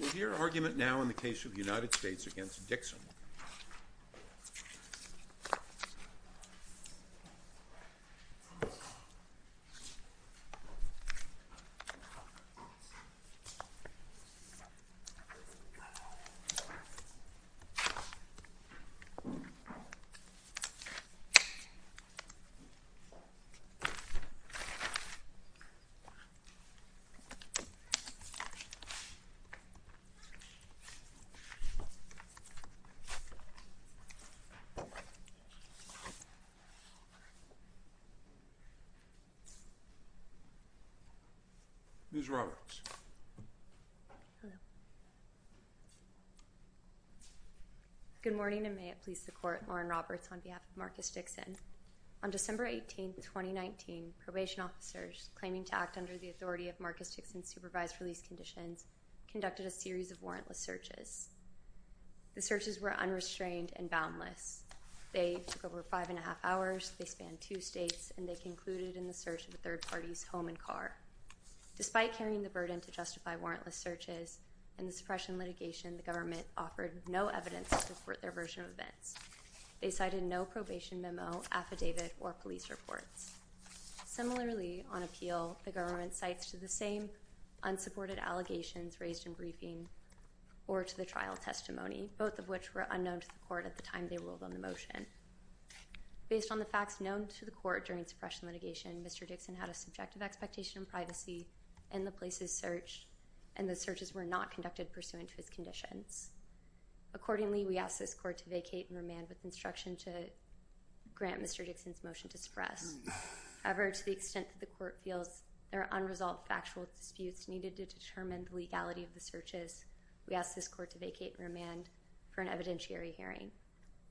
We'll hear argument now in the case of the United States v. Dixon. Good morning and may it please the court, Lauren Roberts on behalf of Marcus Dixon. On December 18, 2019, probation officers claiming to act under the authority of Marcus Dixon's supervised release conditions conducted a series of warrantless searches. The searches were unrestrained and boundless. They took over five and a half hours, they spanned two states, and they concluded in the search of a third party's home and car. Despite carrying the burden to justify warrantless searches and the suppression litigation, the government offered no evidence to support their version of events. They cited no probation memo, affidavit, or police reports. Similarly, on appeal, the government cites to the same unsupported allegations raised in briefing or to the trial testimony, both of which were unknown to the court at the time they ruled on the motion. Based on the facts known to the court during suppression litigation, Mr. Dixon had a subjective expectation of privacy in the places searched, and the searches were not conducted pursuant to his conditions. Accordingly, we ask this court to vacate and remand with instruction to grant Mr. Dixon's request to be expressed. However, to the extent that the court feels there are unresolved factual disputes needed to determine the legality of the searches, we ask this court to vacate and remand for an evidentiary hearing.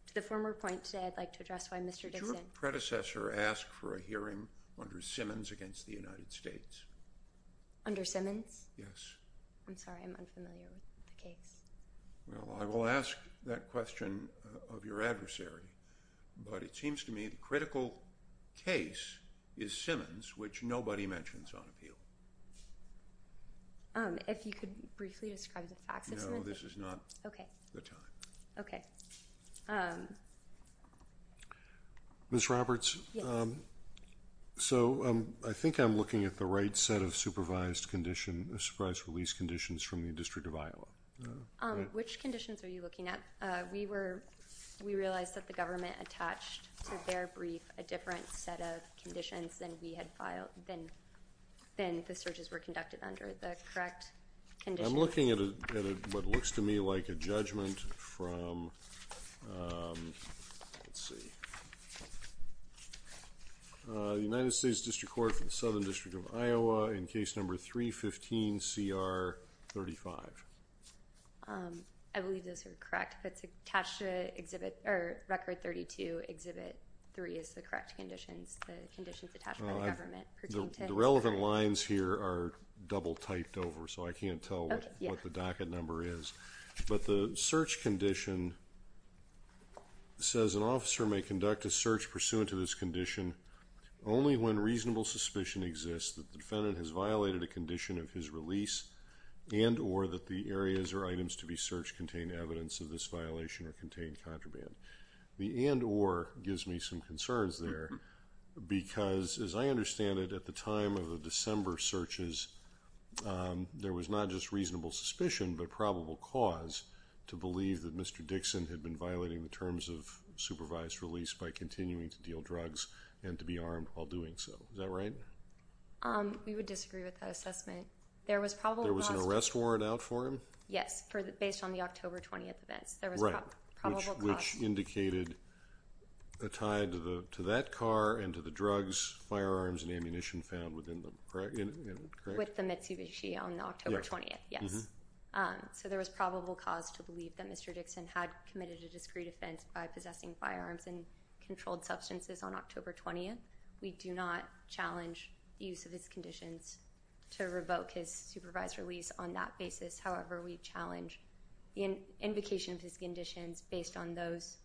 To the former point today, I'd like to address why Mr. Dixon— Did your predecessor ask for a hearing under Simmons against the United States? Under Simmons? Yes. I'm sorry, I'm unfamiliar with the case. Well, I will ask that question of your adversary, but it seems to me the critical case is Simmons, which nobody mentions on appeal. If you could briefly describe the facts of Simmons? No, this is not the time. Ms. Roberts? So, I think I'm looking at the right set of supervised release conditions from the Southern District of Iowa. Which conditions are you looking at? We realized that the government attached to their brief a different set of conditions than the searches were conducted under. The correct conditions— I'm looking at what looks to me like a judgment from, let's see, the United States District Court for the Southern District of Iowa in case number 315CR35. I believe those are correct, but it's attached to Record 32, Exhibit 3 is the correct conditions, the conditions attached by the government. The relevant lines here are double-typed over, so I can't tell what the docket number is. But the search condition says an officer may conduct a search pursuant to this condition only when reasonable suspicion exists that the defendant has violated a condition of his release and or that the areas or items to be searched contain evidence of this violation or contain contraband. The and or gives me some concerns there because, as I understand it, at the time of the December searches, there was not just reasonable suspicion but probable cause to believe that Mr. Dixon had been violating the terms of supervised release by continuing to deal drugs and to be armed while doing so. Is that right? We would disagree with that assessment. There was an arrest warrant out for him? Yes, based on the October 20th events. Which indicated a tie to that car and to the drugs, firearms, and ammunition found within them, correct? With the Mitsubishi on October 20th, yes. So there was probable cause to believe that Mr. Dixon had committed a discreet offense by possessing firearms and controlled substances on October 20th. We do not challenge the use of his conditions to revoke his supervised release on that basis. However, we challenge the invocation of his conditions based on those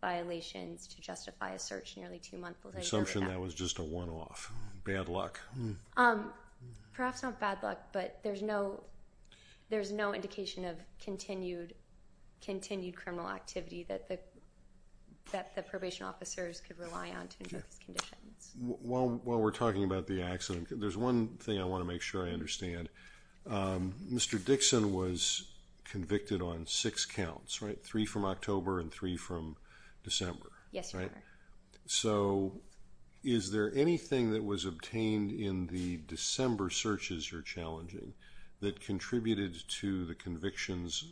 violations to justify a search nearly two months later. The assumption that was just a one-off. Bad luck. Perhaps not bad luck, but there's no indication of continued criminal activity that the probation officers could rely on to invoke his conditions. While we're talking about the accident, there's one thing I want to make sure I understand. Mr. Dixon was convicted on six counts, right? Three from October and three from December. Yes, Your Honor. So, is there anything that was obtained in the December searches you're challenging that contributed to the convictions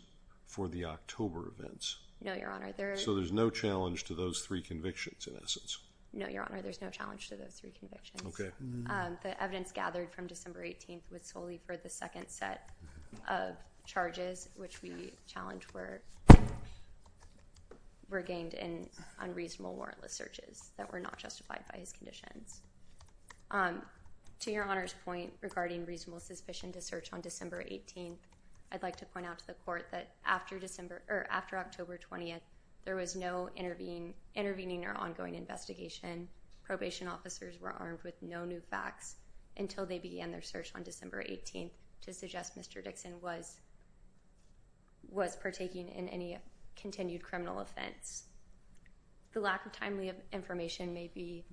for the October events? No, Your Honor. So there's no challenge to those three convictions in essence? No, Your Honor. There's no challenge to those three convictions. The evidence gathered from December 18th was solely for the second set of charges which we challenge were gained in unreasonable warrantless searches that were not justified by his conditions. To Your Honor's point regarding reasonable suspicion to search on December 18th, I'd like to point out to the Court that after October 20th, there was no intervening or ongoing investigation. Probation officers were armed with no new facts until they began their search on December 18th to suggest Mr. Dixon was partaking in any continued criminal offense. The lack of timely information may be,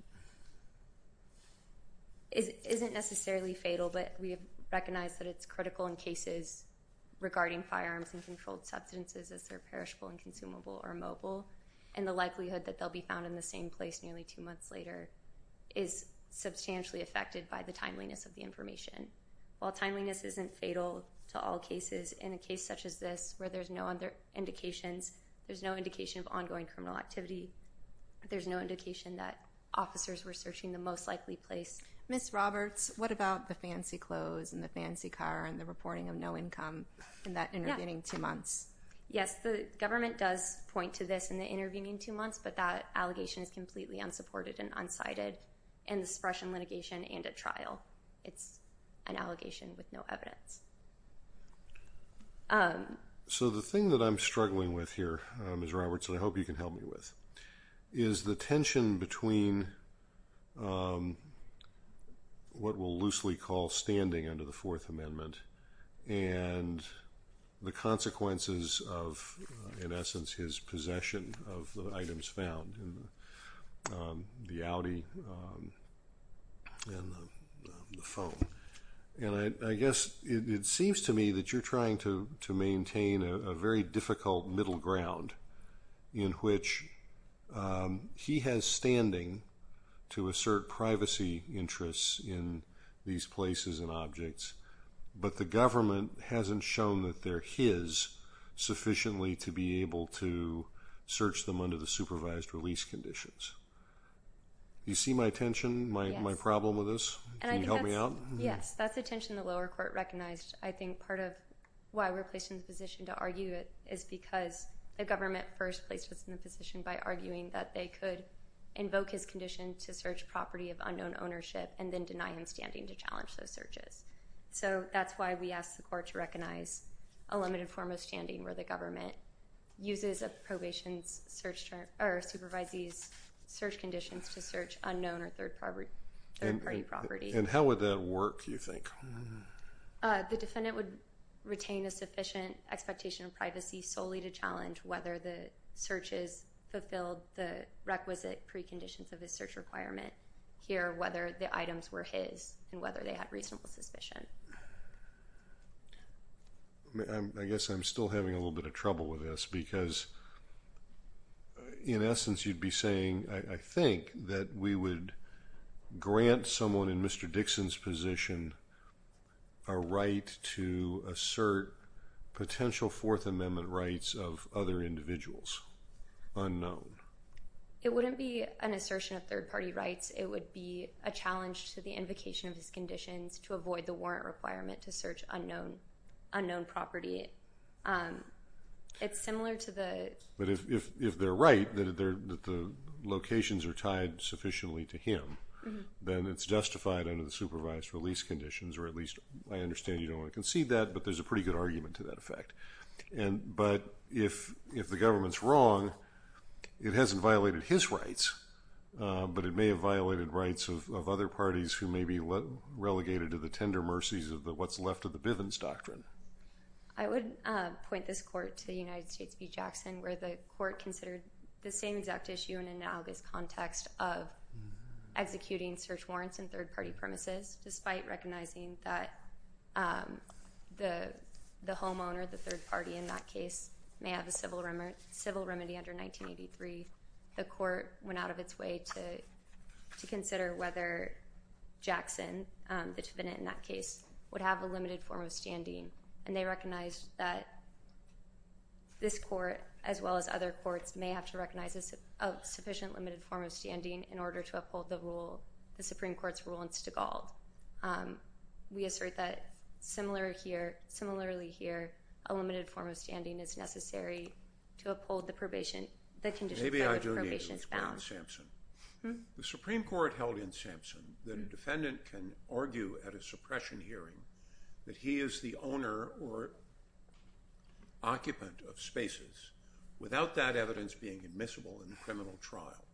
isn't necessarily fatal, but we recognize that it's critical in cases regarding firearms and controlled substances as they're perishable and consumable or immobile and the likelihood that they'll be found in the same place nearly two months later is substantially affected by the timeliness of the information. While timeliness isn't fatal to all cases, in a case such as this where there's no other indications, there's no indication of ongoing criminal activity, there's no indication that officers were searching the most likely place. Ms. Roberts, what about the fancy clothes and the fancy car and the reporting of no income in that intervening two months? Yes, the government does point to this in the intervening two months, but that allegation is completely unsupported and unsighted in the suppression litigation and at trial. It's an allegation with no evidence. So the thing that I'm struggling with here, Ms. Roberts, and I hope you can help me with, is the tension between what we'll loosely call standing under the Fourth Amendment and the consequences of, in essence, his possession of the items found in the Audi and the phone. And I guess it seems to me that you're trying to maintain a very difficult middle ground in which he has standing to assert privacy interests in these places and objects, but the government hasn't shown that they're his sufficiently to be able to search them under the supervised release conditions. Do you see my tension, my problem with this? Can you help me out? Yes, that's the tension the lower court recognized. I think part of why we're placed in the position to argue it is because the government first placed us in the position by arguing that they could invoke his condition to search property of unknown ownership and then deny him standing to challenge those searches. So that's why we asked the court to recognize a limited form of standing where the government uses a probation supervisor's search conditions to search unknown or third-party property. And how would that work, do you think? The defendant would retain a sufficient expectation of privacy solely to challenge whether the searches fulfilled the requisite preconditions of his search requirement here, whether the items were his and whether they had reasonable suspicion. I guess I'm still having a little bit of trouble with this because in essence you'd be saying, I think that we would grant someone in Mr. Dixon's position a right to assert potential Fourth Amendment rights of other individuals, unknown. It wouldn't be an assertion of third-party rights. It would be a challenge to the invocation of his conditions to avoid the warrant requirement to search unknown property. It's similar to the... But if they're right, that the locations are tied sufficiently to him, then it's justified under the supervised release conditions or at least I understand you don't want to concede that but there's a pretty good argument to that effect. But if the government's wrong, it hasn't violated his rights but it may have violated rights of other parties who may be relegated to the tender mercies of what's left of the Bivens Doctrine. I would point this court to the United States v. Jackson where the court considered the same exact issue in analogous context of executing search warrants in third-party premises despite recognizing that the homeowner, the third party in that case, may have a civil remedy under 1983. The court went out of its way to consider whether Jackson, the defendant in that case, would have a limited form of standing and they recognized that this court as well as other courts may have to recognize a sufficient limited form of standing in order to uphold the rule, the Supreme Court's rule in Stegall. We assert that similarly here, a limited form of standing is necessary to uphold the probation, the conditions by which probation is bound. The Supreme Court held in Sampson that a defendant can argue at a suppression hearing that he is the owner or occupant of spaces without that evidence being admissible in the criminal trial.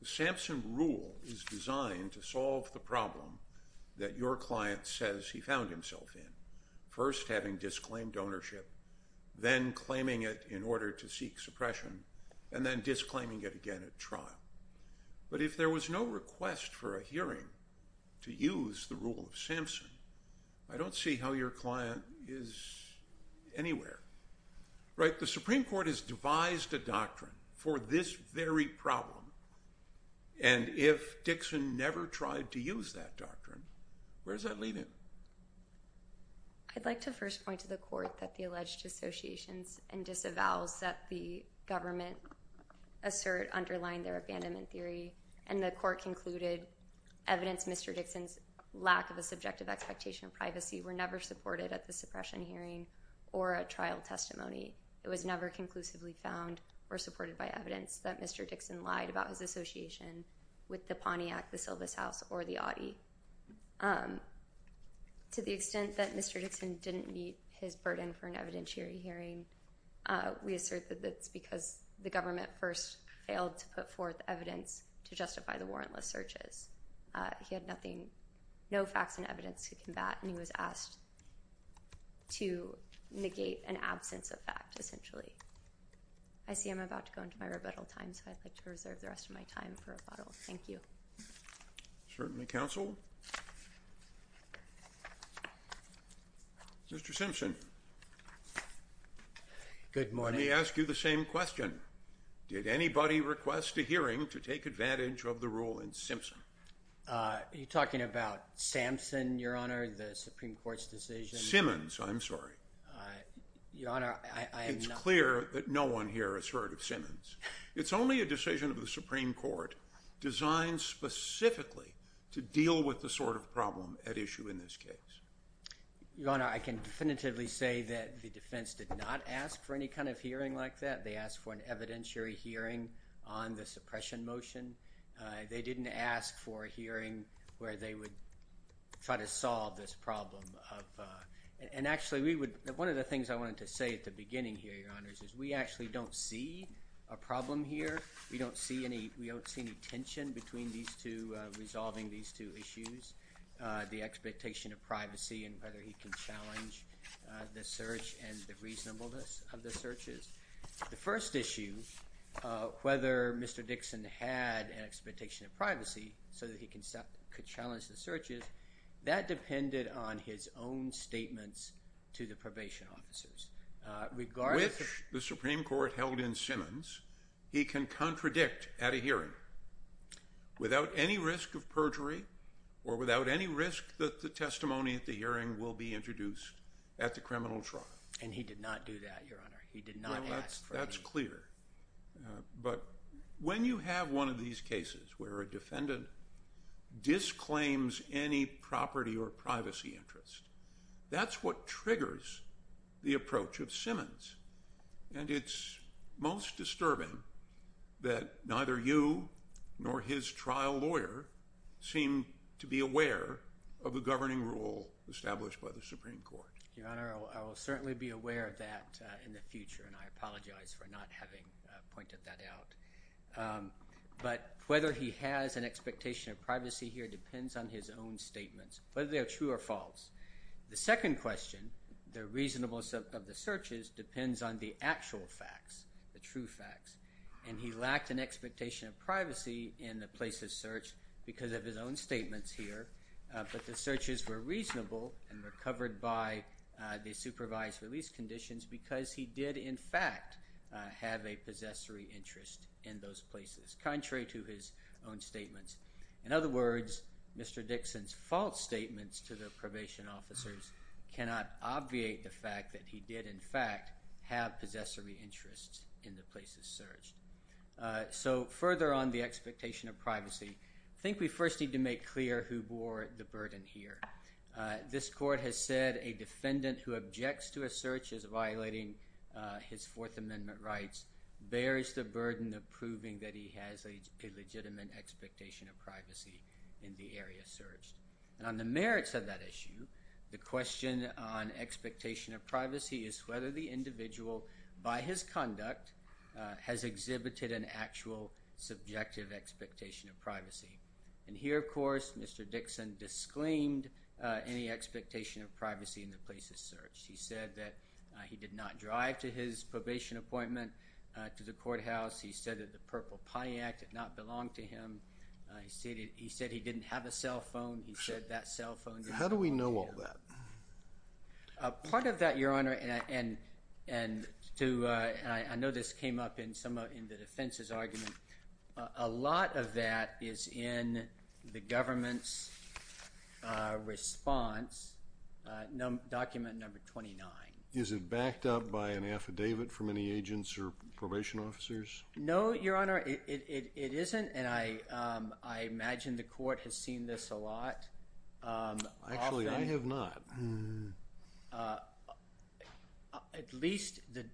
The Sampson rule is designed to solve the problem that your client says he found himself in, first having disclaimed ownership, then claiming it in order to seek suppression, and then disclaiming it again at trial. But if there was no request for a hearing to use the rule of Sampson, I don't see how your client is anywhere. Right? The Supreme Court has devised a doctrine for this very problem. And if Dixon never tried to use that doctrine, where does that leave him? I'd like to first point to the court that the alleged dissociations and disavows that the government assert underlying their abandonment theory, and the court concluded evidence Mr. Dixon's lack of a subjective expectation of privacy were never supported at the suppression hearing, or a trial testimony. It was never conclusively found or supported by evidence that Mr. Dixon lied about his association with the Pontiac, the Sylvus House, or the Audi. To the extent that Mr. Dixon didn't meet his burden for an evidentiary hearing, we assert that that's because the government first failed to put forth evidence to justify the warrantless searches. He had nothing, no facts and evidence to combat, and he was asked to negate an absence of fact, essentially. I see I'm about to go into my rebuttal time, so I'd like to reserve the rest of my time for rebuttal. Thank you. Certainly, counsel. Mr. Simpson. Good morning. Let me ask you the same question. Did anybody request a hearing to take advantage of the rule in Simpson? Are you talking about Samson, Your Honor, the Supreme Court's decision? I'm sorry. Your Honor, I am not. It's clear that no one here has heard of Simmons. It's only a decision of the Supreme Court designed specifically to deal with the sort of problem at issue in this case. Your Honor, I can definitively say that the defense did not ask for any kind of hearing like that. They asked for an evidentiary hearing on the suppression motion. They asked for a hearing where they would try to solve this problem. And actually, one of the things I wanted to say at the beginning here, Your Honor, is we actually don't see a problem here. We don't see any tension between these two, resolving these two issues, the expectation of privacy and whether he can challenge the search and the reasonableness of the searches. The first issue, whether Mr. Dixon had an expectation of privacy so that he could challenge the searches, that depended on his own statements to the probation officers. With the Supreme Court held in Simmons, he can contradict at a hearing without any risk of perjury or without any risk that the testimony at the hearing will be introduced at the criminal trial. And he did not do that, Your Honor. But when you have one of these cases where a defendant disclaims any property or privacy interest, that's what triggers the approach of Simmons. And it's most disturbing that neither you nor his trial lawyer seem to be aware of the governing rule established by the Supreme Court. Your Honor, I will certainly be aware of that in the future, and I apologize for not having pointed that out. But whether he has an expectation of privacy here depends on his own statements, whether they are true or false. The second question, the reasonableness of the searches depends on the actual facts, the true facts. And he lacked an expectation of privacy in the place of search because of his own statements here. But the searches were reasonable and were covered by the fact that he did in fact have a possessory interest in those places, contrary to his own statements. In other words, Mr. Dixon's false statements to the probation officers cannot obviate the fact that he did in fact have possessory interests in the place of search. So further on the expectation of privacy, I think we first need to make clear who bore the burden here. This court has said a defendant who objects to a search as violating his Fourth Amendment rights bears the burden of proving that he has a legitimate expectation of privacy in the area searched. And on the merits of that issue, the question on expectation of privacy is whether the individual, by his conduct, has exhibited an actual subjective expectation of privacy. And here, of course, Mr. Dixon disclaimed any expectation of privacy in the place of search. He said that he did not drive to his probation appointment to the courthouse. He said that the Purple Pontiac did not belong to him. He said he didn't have a cellphone. He said that cellphone did not belong to him. How do we know all that? Part of that, Your Honor, and I know this came up in the defense's argument, was in the government's response, document number 29. Is it backed up by an affidavit from any agents or probation officers? No, Your Honor, it isn't, and I imagine the court has seen this a lot. Actually, I have not. At least the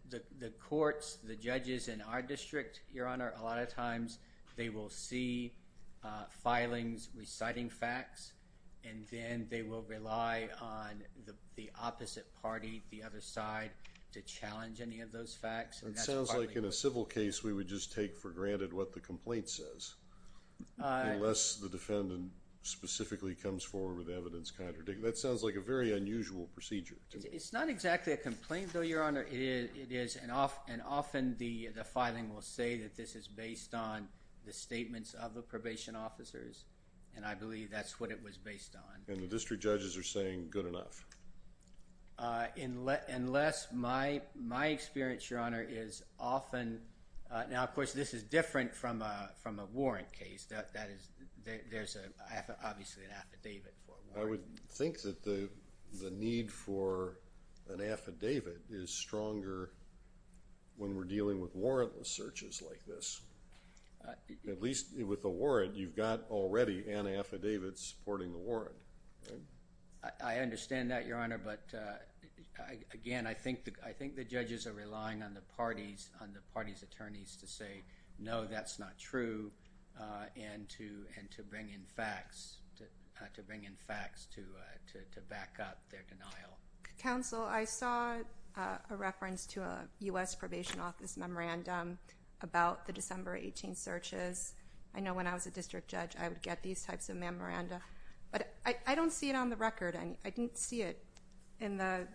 courts, the judges in our district, a lot of times, they will see filings reciting facts, and then they will rely on the opposite party, the other side, to challenge any of those facts. It sounds like in a civil case we would just take for granted what the complaint says, unless the defendant specifically comes forward with evidence contradicting. That sounds like a very unusual procedure. It's not exactly a complaint, Your Honor, and often the filing will say that this is based on the statements of the probation officers, and I believe that's what it was based on. And the district judges are saying good enough? Unless my experience, is often, now, of course, this is different from a warrant case. There's obviously an affidavit. I would think that the need for an affidavit is stronger when we're dealing with warrantless searches like this. At least with a warrant, you've got already an affidavit supporting the warrant. I understand that, Your Honor, but again, I think the judges are relying on the party's attorneys to say, no, that's not true, and to bring in facts to back up their denial. Counsel, I saw a reference to a U.S. probation office memorandum about the December 18 searches. I know when I was a district judge, I would get these types of memoranda, but I don't see it on the record. I didn't see it in the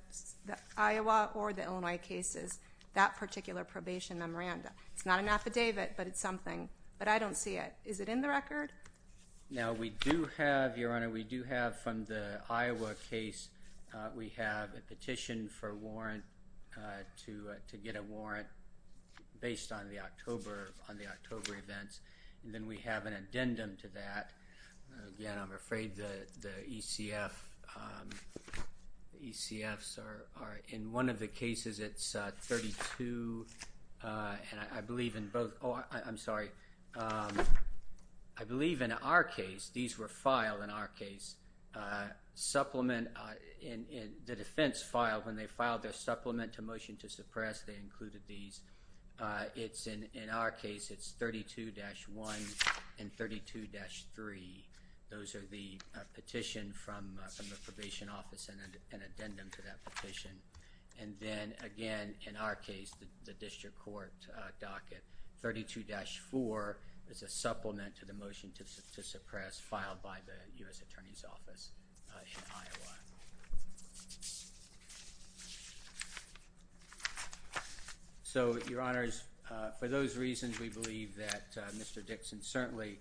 Iowa or the Illinois cases, that particular probation memoranda. It's not an affidavit, but it's something, but I don't see it. Is it in the record? Now, we do have, Your Honor, we do have from the Iowa case, we have a petition for a warrant to get a warrant based on the October events, and then we have an addendum to that. Again, I'm afraid the ECF, the ECFs are, in one of the cases, it's 32, and I believe in both, oh, I'm sorry, I believe in our case, these were filed in our case. Supplement, the defense filed, when they filed their supplement to motion to they included these. It's in our case, it's 32-1 and 32-3. Those are the petition from the probation office and an addendum to that petition. And then, again, in our case, the district court docket, 32-4 is a supplement to the motion to suppress filed by the U.S. Attorney's Office in Iowa. So, Your Honors, for those reasons, we believe that Mr. Dixon certainly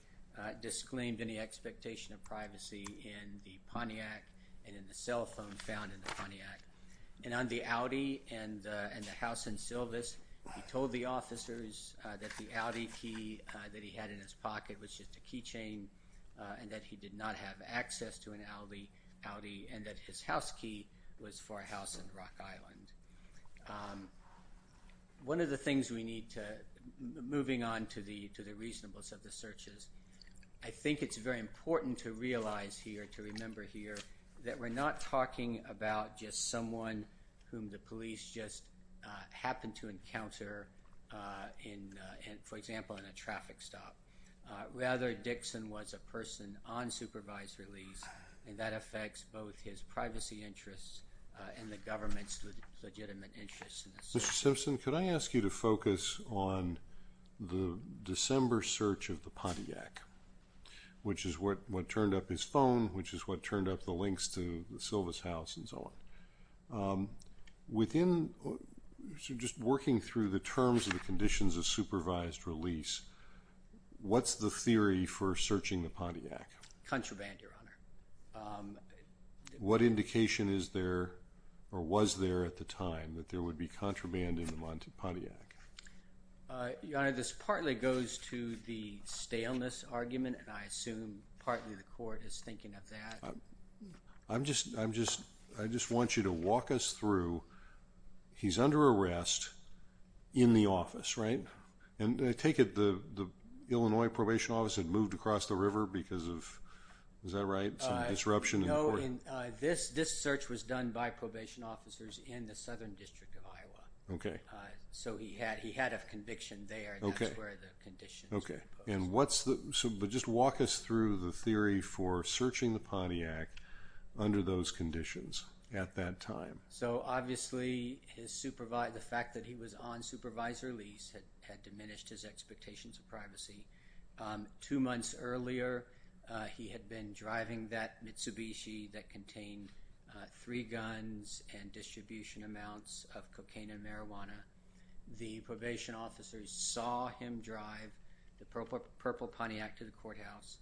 disclaimed any expectation of privacy in the Pontiac and in the cell phone found in the Pontiac. And on the Audi and the house in Sylvus, he told the officers that the Audi key that he had in his pocket was just a key chain and that he did not have access to an Audi and that his house key was for a house in Rock Island. One of the things we need to moving on to the reasonableness of the searches I think it's very important to realize here, to remember here, that we're not talking about just someone whom the police just happen to encounter in, for example, in a traffic stop. Rather, Dixon was a person on supervised release and that affects both his privacy interests and the government's legitimate interest in the search. Mr. Simpson, could I ask you to focus on the December search of the Pontiac which is what turned up his phone which is what turned up the links to Silva's house and so on. Within, so just working through the terms of the conditions of supervised release, what's the theory for searching the Pontiac? Contraband, What indication is there or was there at the time that there would be contraband in the Pontiac? Your Honor, this partly goes to the staleness argument and I assume partly the court is thinking of that. I'm just, I just want you to walk us through he's under arrest in the office, right? And I take it the Illinois probation office had moved across the river because of, is that right, some disruption in the court? No, this search was done by probation officers in the southern district of Iowa. Okay. So he had a conviction there and that's where the conditions Okay. And what's the, but just walk us through the theory for searching the Pontiac under those conditions at that time. So obviously his supervisor, the fact that he was on supervisor release had diminished his expectations of privacy. Two months earlier he had been driving that Mitsubishi that contained three guns and distribution amounts of cocaine and marijuana. The probation officers saw him drive the purple Pontiac to the courthouse.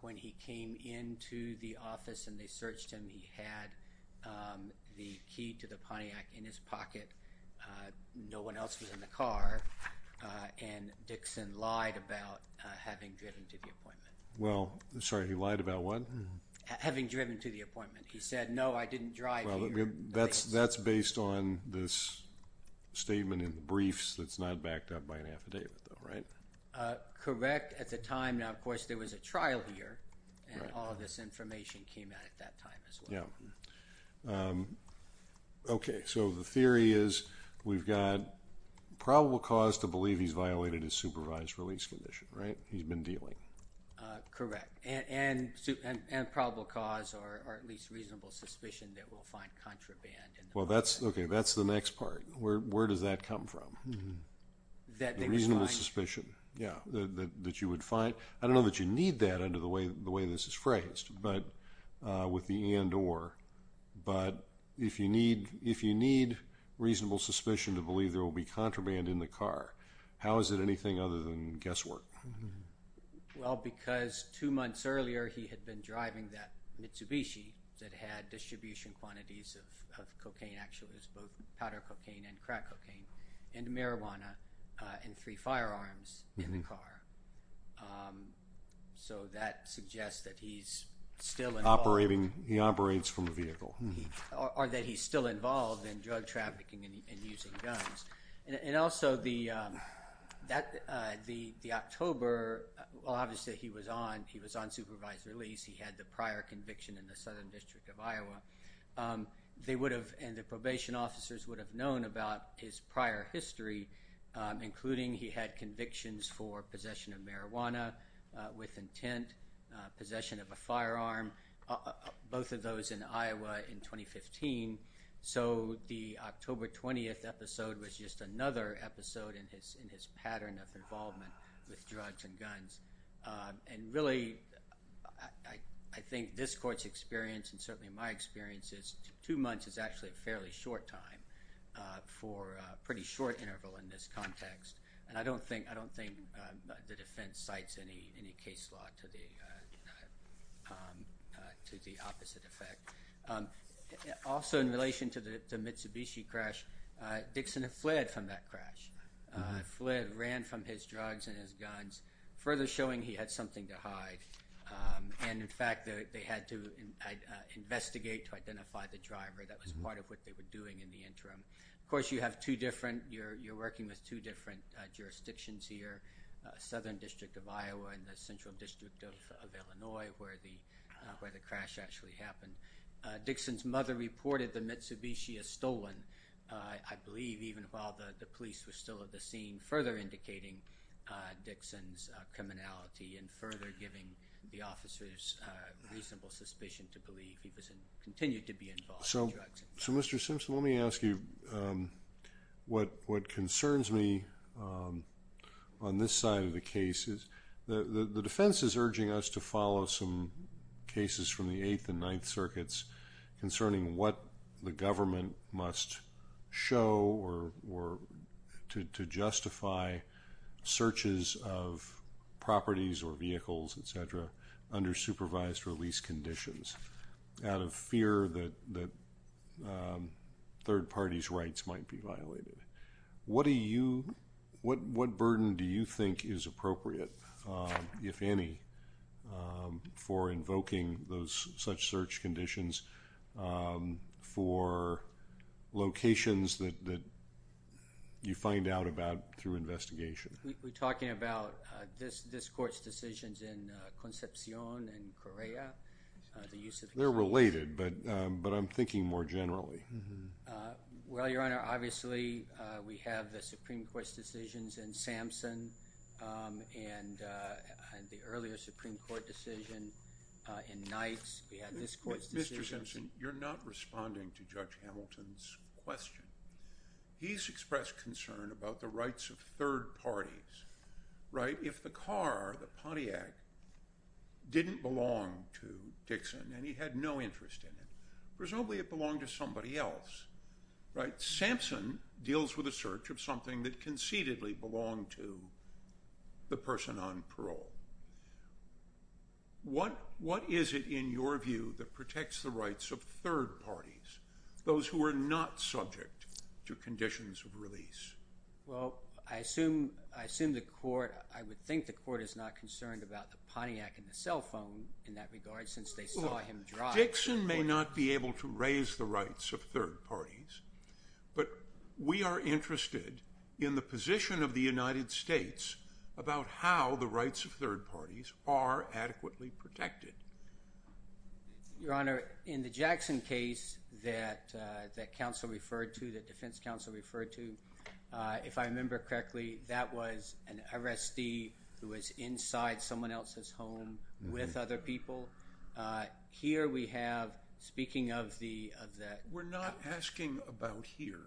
When he came into the office and they searched him he had the key to the Pontiac in his pocket. No one else was in the car and Dixon lied about having driven to the appointment. Well, sorry, he lied about what? Having driven to the appointment. He said, no, I didn't drive here. That's based on this statement in the briefs that's not backed up by an affidavit though, right? Correct, at the time. Now, of course, there was a trial here and all of this information came out at that time as well. Yeah. Okay, so the theory is we've got probable cause to believe he's violated his supervised release condition, right? He's been dealing. Correct. And probable cause or at least reasonable suspicion that we'll find contraband in the Pontiac. Okay, that's the next part. Where does that come from? That they would find. The reasonable suspicion, yeah, that you would find. I don't know that you need that under the way this is phrased but with the and or but if you need reasonable suspicion to believe there will be contraband in the car, how is it anything other than guesswork? Well, because two months earlier he had been driving that Mitsubishi that had distribution quantities of cocaine actually, it was both powder cocaine and crack cocaine and marijuana and three firearms in the car. So that suggests that he's still operating, from the vehicle. Or that he's still involved in drug trafficking and using guns. And also the, that, the October, well obviously he was on, he was on supervised release. He had the prior conviction in the Southern District of Iowa. They would have and the probation officers would have known about his prior history, including he had convictions for possession of marijuana with intent, possession of a firearm, both of those in Iowa in 2015. So, the October 20th episode was just another episode in his, in his pattern of involvement with drugs and guns. And really I, I think this court's experience and certainly my experience is two months is actually a fairly short time for a pretty short interval in this context. And I don't think, I don't think the defense cites any, any case law to the, to the opposite effect. Also in relation to the Mitsubishi crash, Dixon had fled from that crash. Fled, ran from his drugs and his guns. Further showing he had something to hide. And in fact they, they had to investigate to identify the driver. That was part of what they were doing in the interim. Of course you have two different, you're working with two different jurisdictions here. Southern District of Iowa and the Central District of Illinois where the, where the crash actually happened. Dixon's mother reported the Mitsubishi as stolen. I believe even while the, the police were still at the scene further indicating Dixon's criminality and further giving the officers reasonable suspicion to believe he was in, continued to be involved in drugs. So, so Mr. Simpson let me ask you what, what concerns me on this side of the case is the, the defense is urging us to follow some cases from the 8th and 9th circuits concerning what the government must show or, or to justify searches of properties or vehicles etc. under supervised release conditions out of fear that, that third parties rights might be What do you, what, what burden do you think is appropriate if any for invoking those, such search conditions for locations that, that you find out about through investigation? We're talking about this, this court's decisions in Concepcion and Correa the use of They're related but, but I'm thinking more generally. Well Your Honor obviously we have the Supreme Court's decisions in Samson and the earlier Supreme Court decision in Knight's we have this court's decisions Mr. Samson you're not responding to Judge Hamilton's question. He's expressed concern about the rights of third parties right? If the car the Pontiac didn't belong to and he had no interest in it presumably it belonged to somebody else right? Samson deals with a search of something that concededly belonged to the person on parole. What what is it in your view that protects the rights of third parties those who are not subject to conditions of release? Well I assume I assume the court I would think the court is not concerned about the Pontiac and the cell phone in that regard since they saw him drive. Dixon may not be able to raise the rights of third parties but we are interested in the position of the United States about how the rights of third parties are adequately protected. Your Honor, in the Jackson case that that counsel referred to that defense counsel referred to if I remember correctly that was an arrestee who was inside someone else's home with other people here we have speaking of the of that We're not asking about here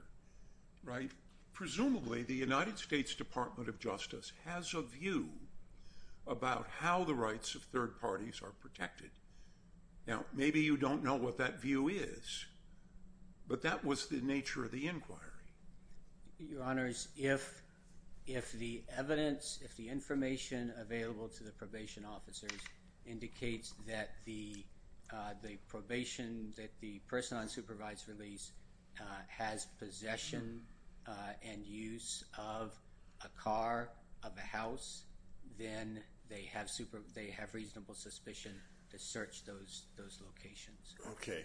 right Presumably the United States Department of Justice has a view about how the rights of third parties are protected now maybe you don't know what that view is but that was the nature of the if the evidence if the information available to the officers indicates that the the probation that the person on supervised release has possession and use of a car of a house then they have super they have reasonable suspicion to search those those locations okay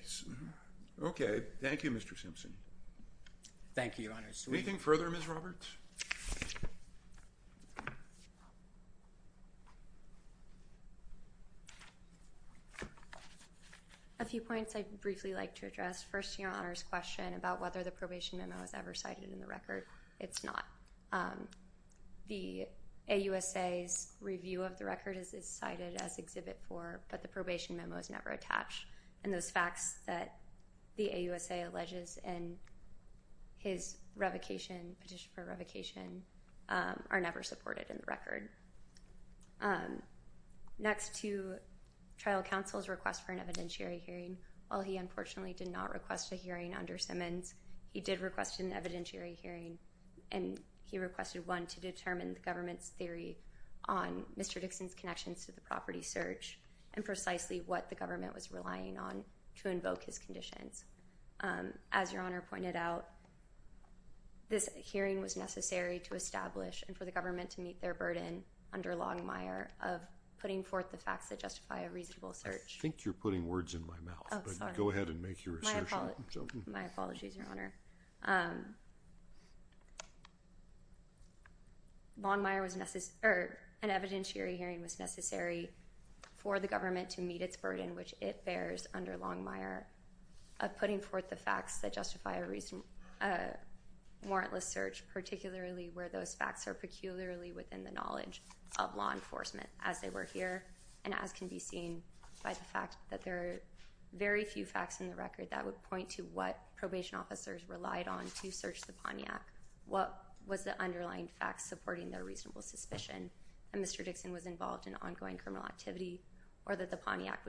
okay thank you Mr. Simpson Thank you Your Honor Anything further Ms. Simpson A few points I'd briefly like to address first Your Honor's question about whether the probation memo is ever cited in the record it's not um the AUSA's review of the record is cited as exhibit four but the probation memo is never attached and those facts that the AUSA alleges in his revocation petition for revocation um are never supported in the record um next to trial counsel's request for an evidentiary hearing while he unfortunately did not request a hearing under Simmons he did request an evidentiary hearing and he was relying on to invoke his conditions um as Your pointed out this hearing was necessary to establish and for the government to meet their burden under Longmire of putting forth the facts that justify a reasonable search I think you're putting words in my mouth oh sorry but go ahead and make your point I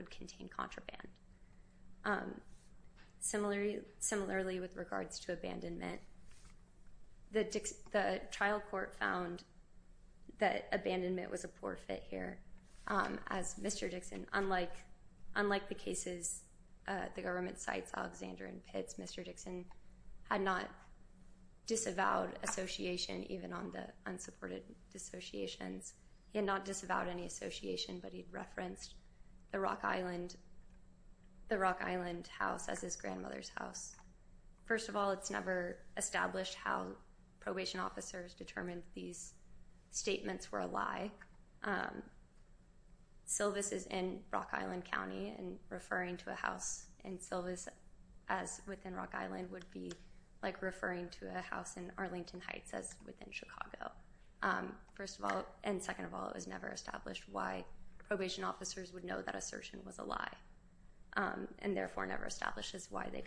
think it's um similar similarly with regards to abandonment the trial court found that abandonment was a poor fit here um as Mr. Dixon unlike unlike the cases uh the government cites Alexander and Pitts Mr. Dixon had not disavowed association even on the unsupported dissociations he had not disavowed any association but he referenced the Rock Island the Rock Island house as his grandmother's house first of all it's never established how probation officers determined these statements were a lie um Silvis is in Rock Island as within Chicago um first of all and second of all it was never established why probation officers would know that assertion was a um and it was never established that any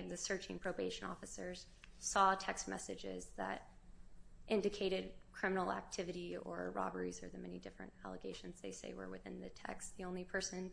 of the searching probation officers saw text messages that indicated criminal activity or robberies or the many different allegations they say were within the text the only thing that or the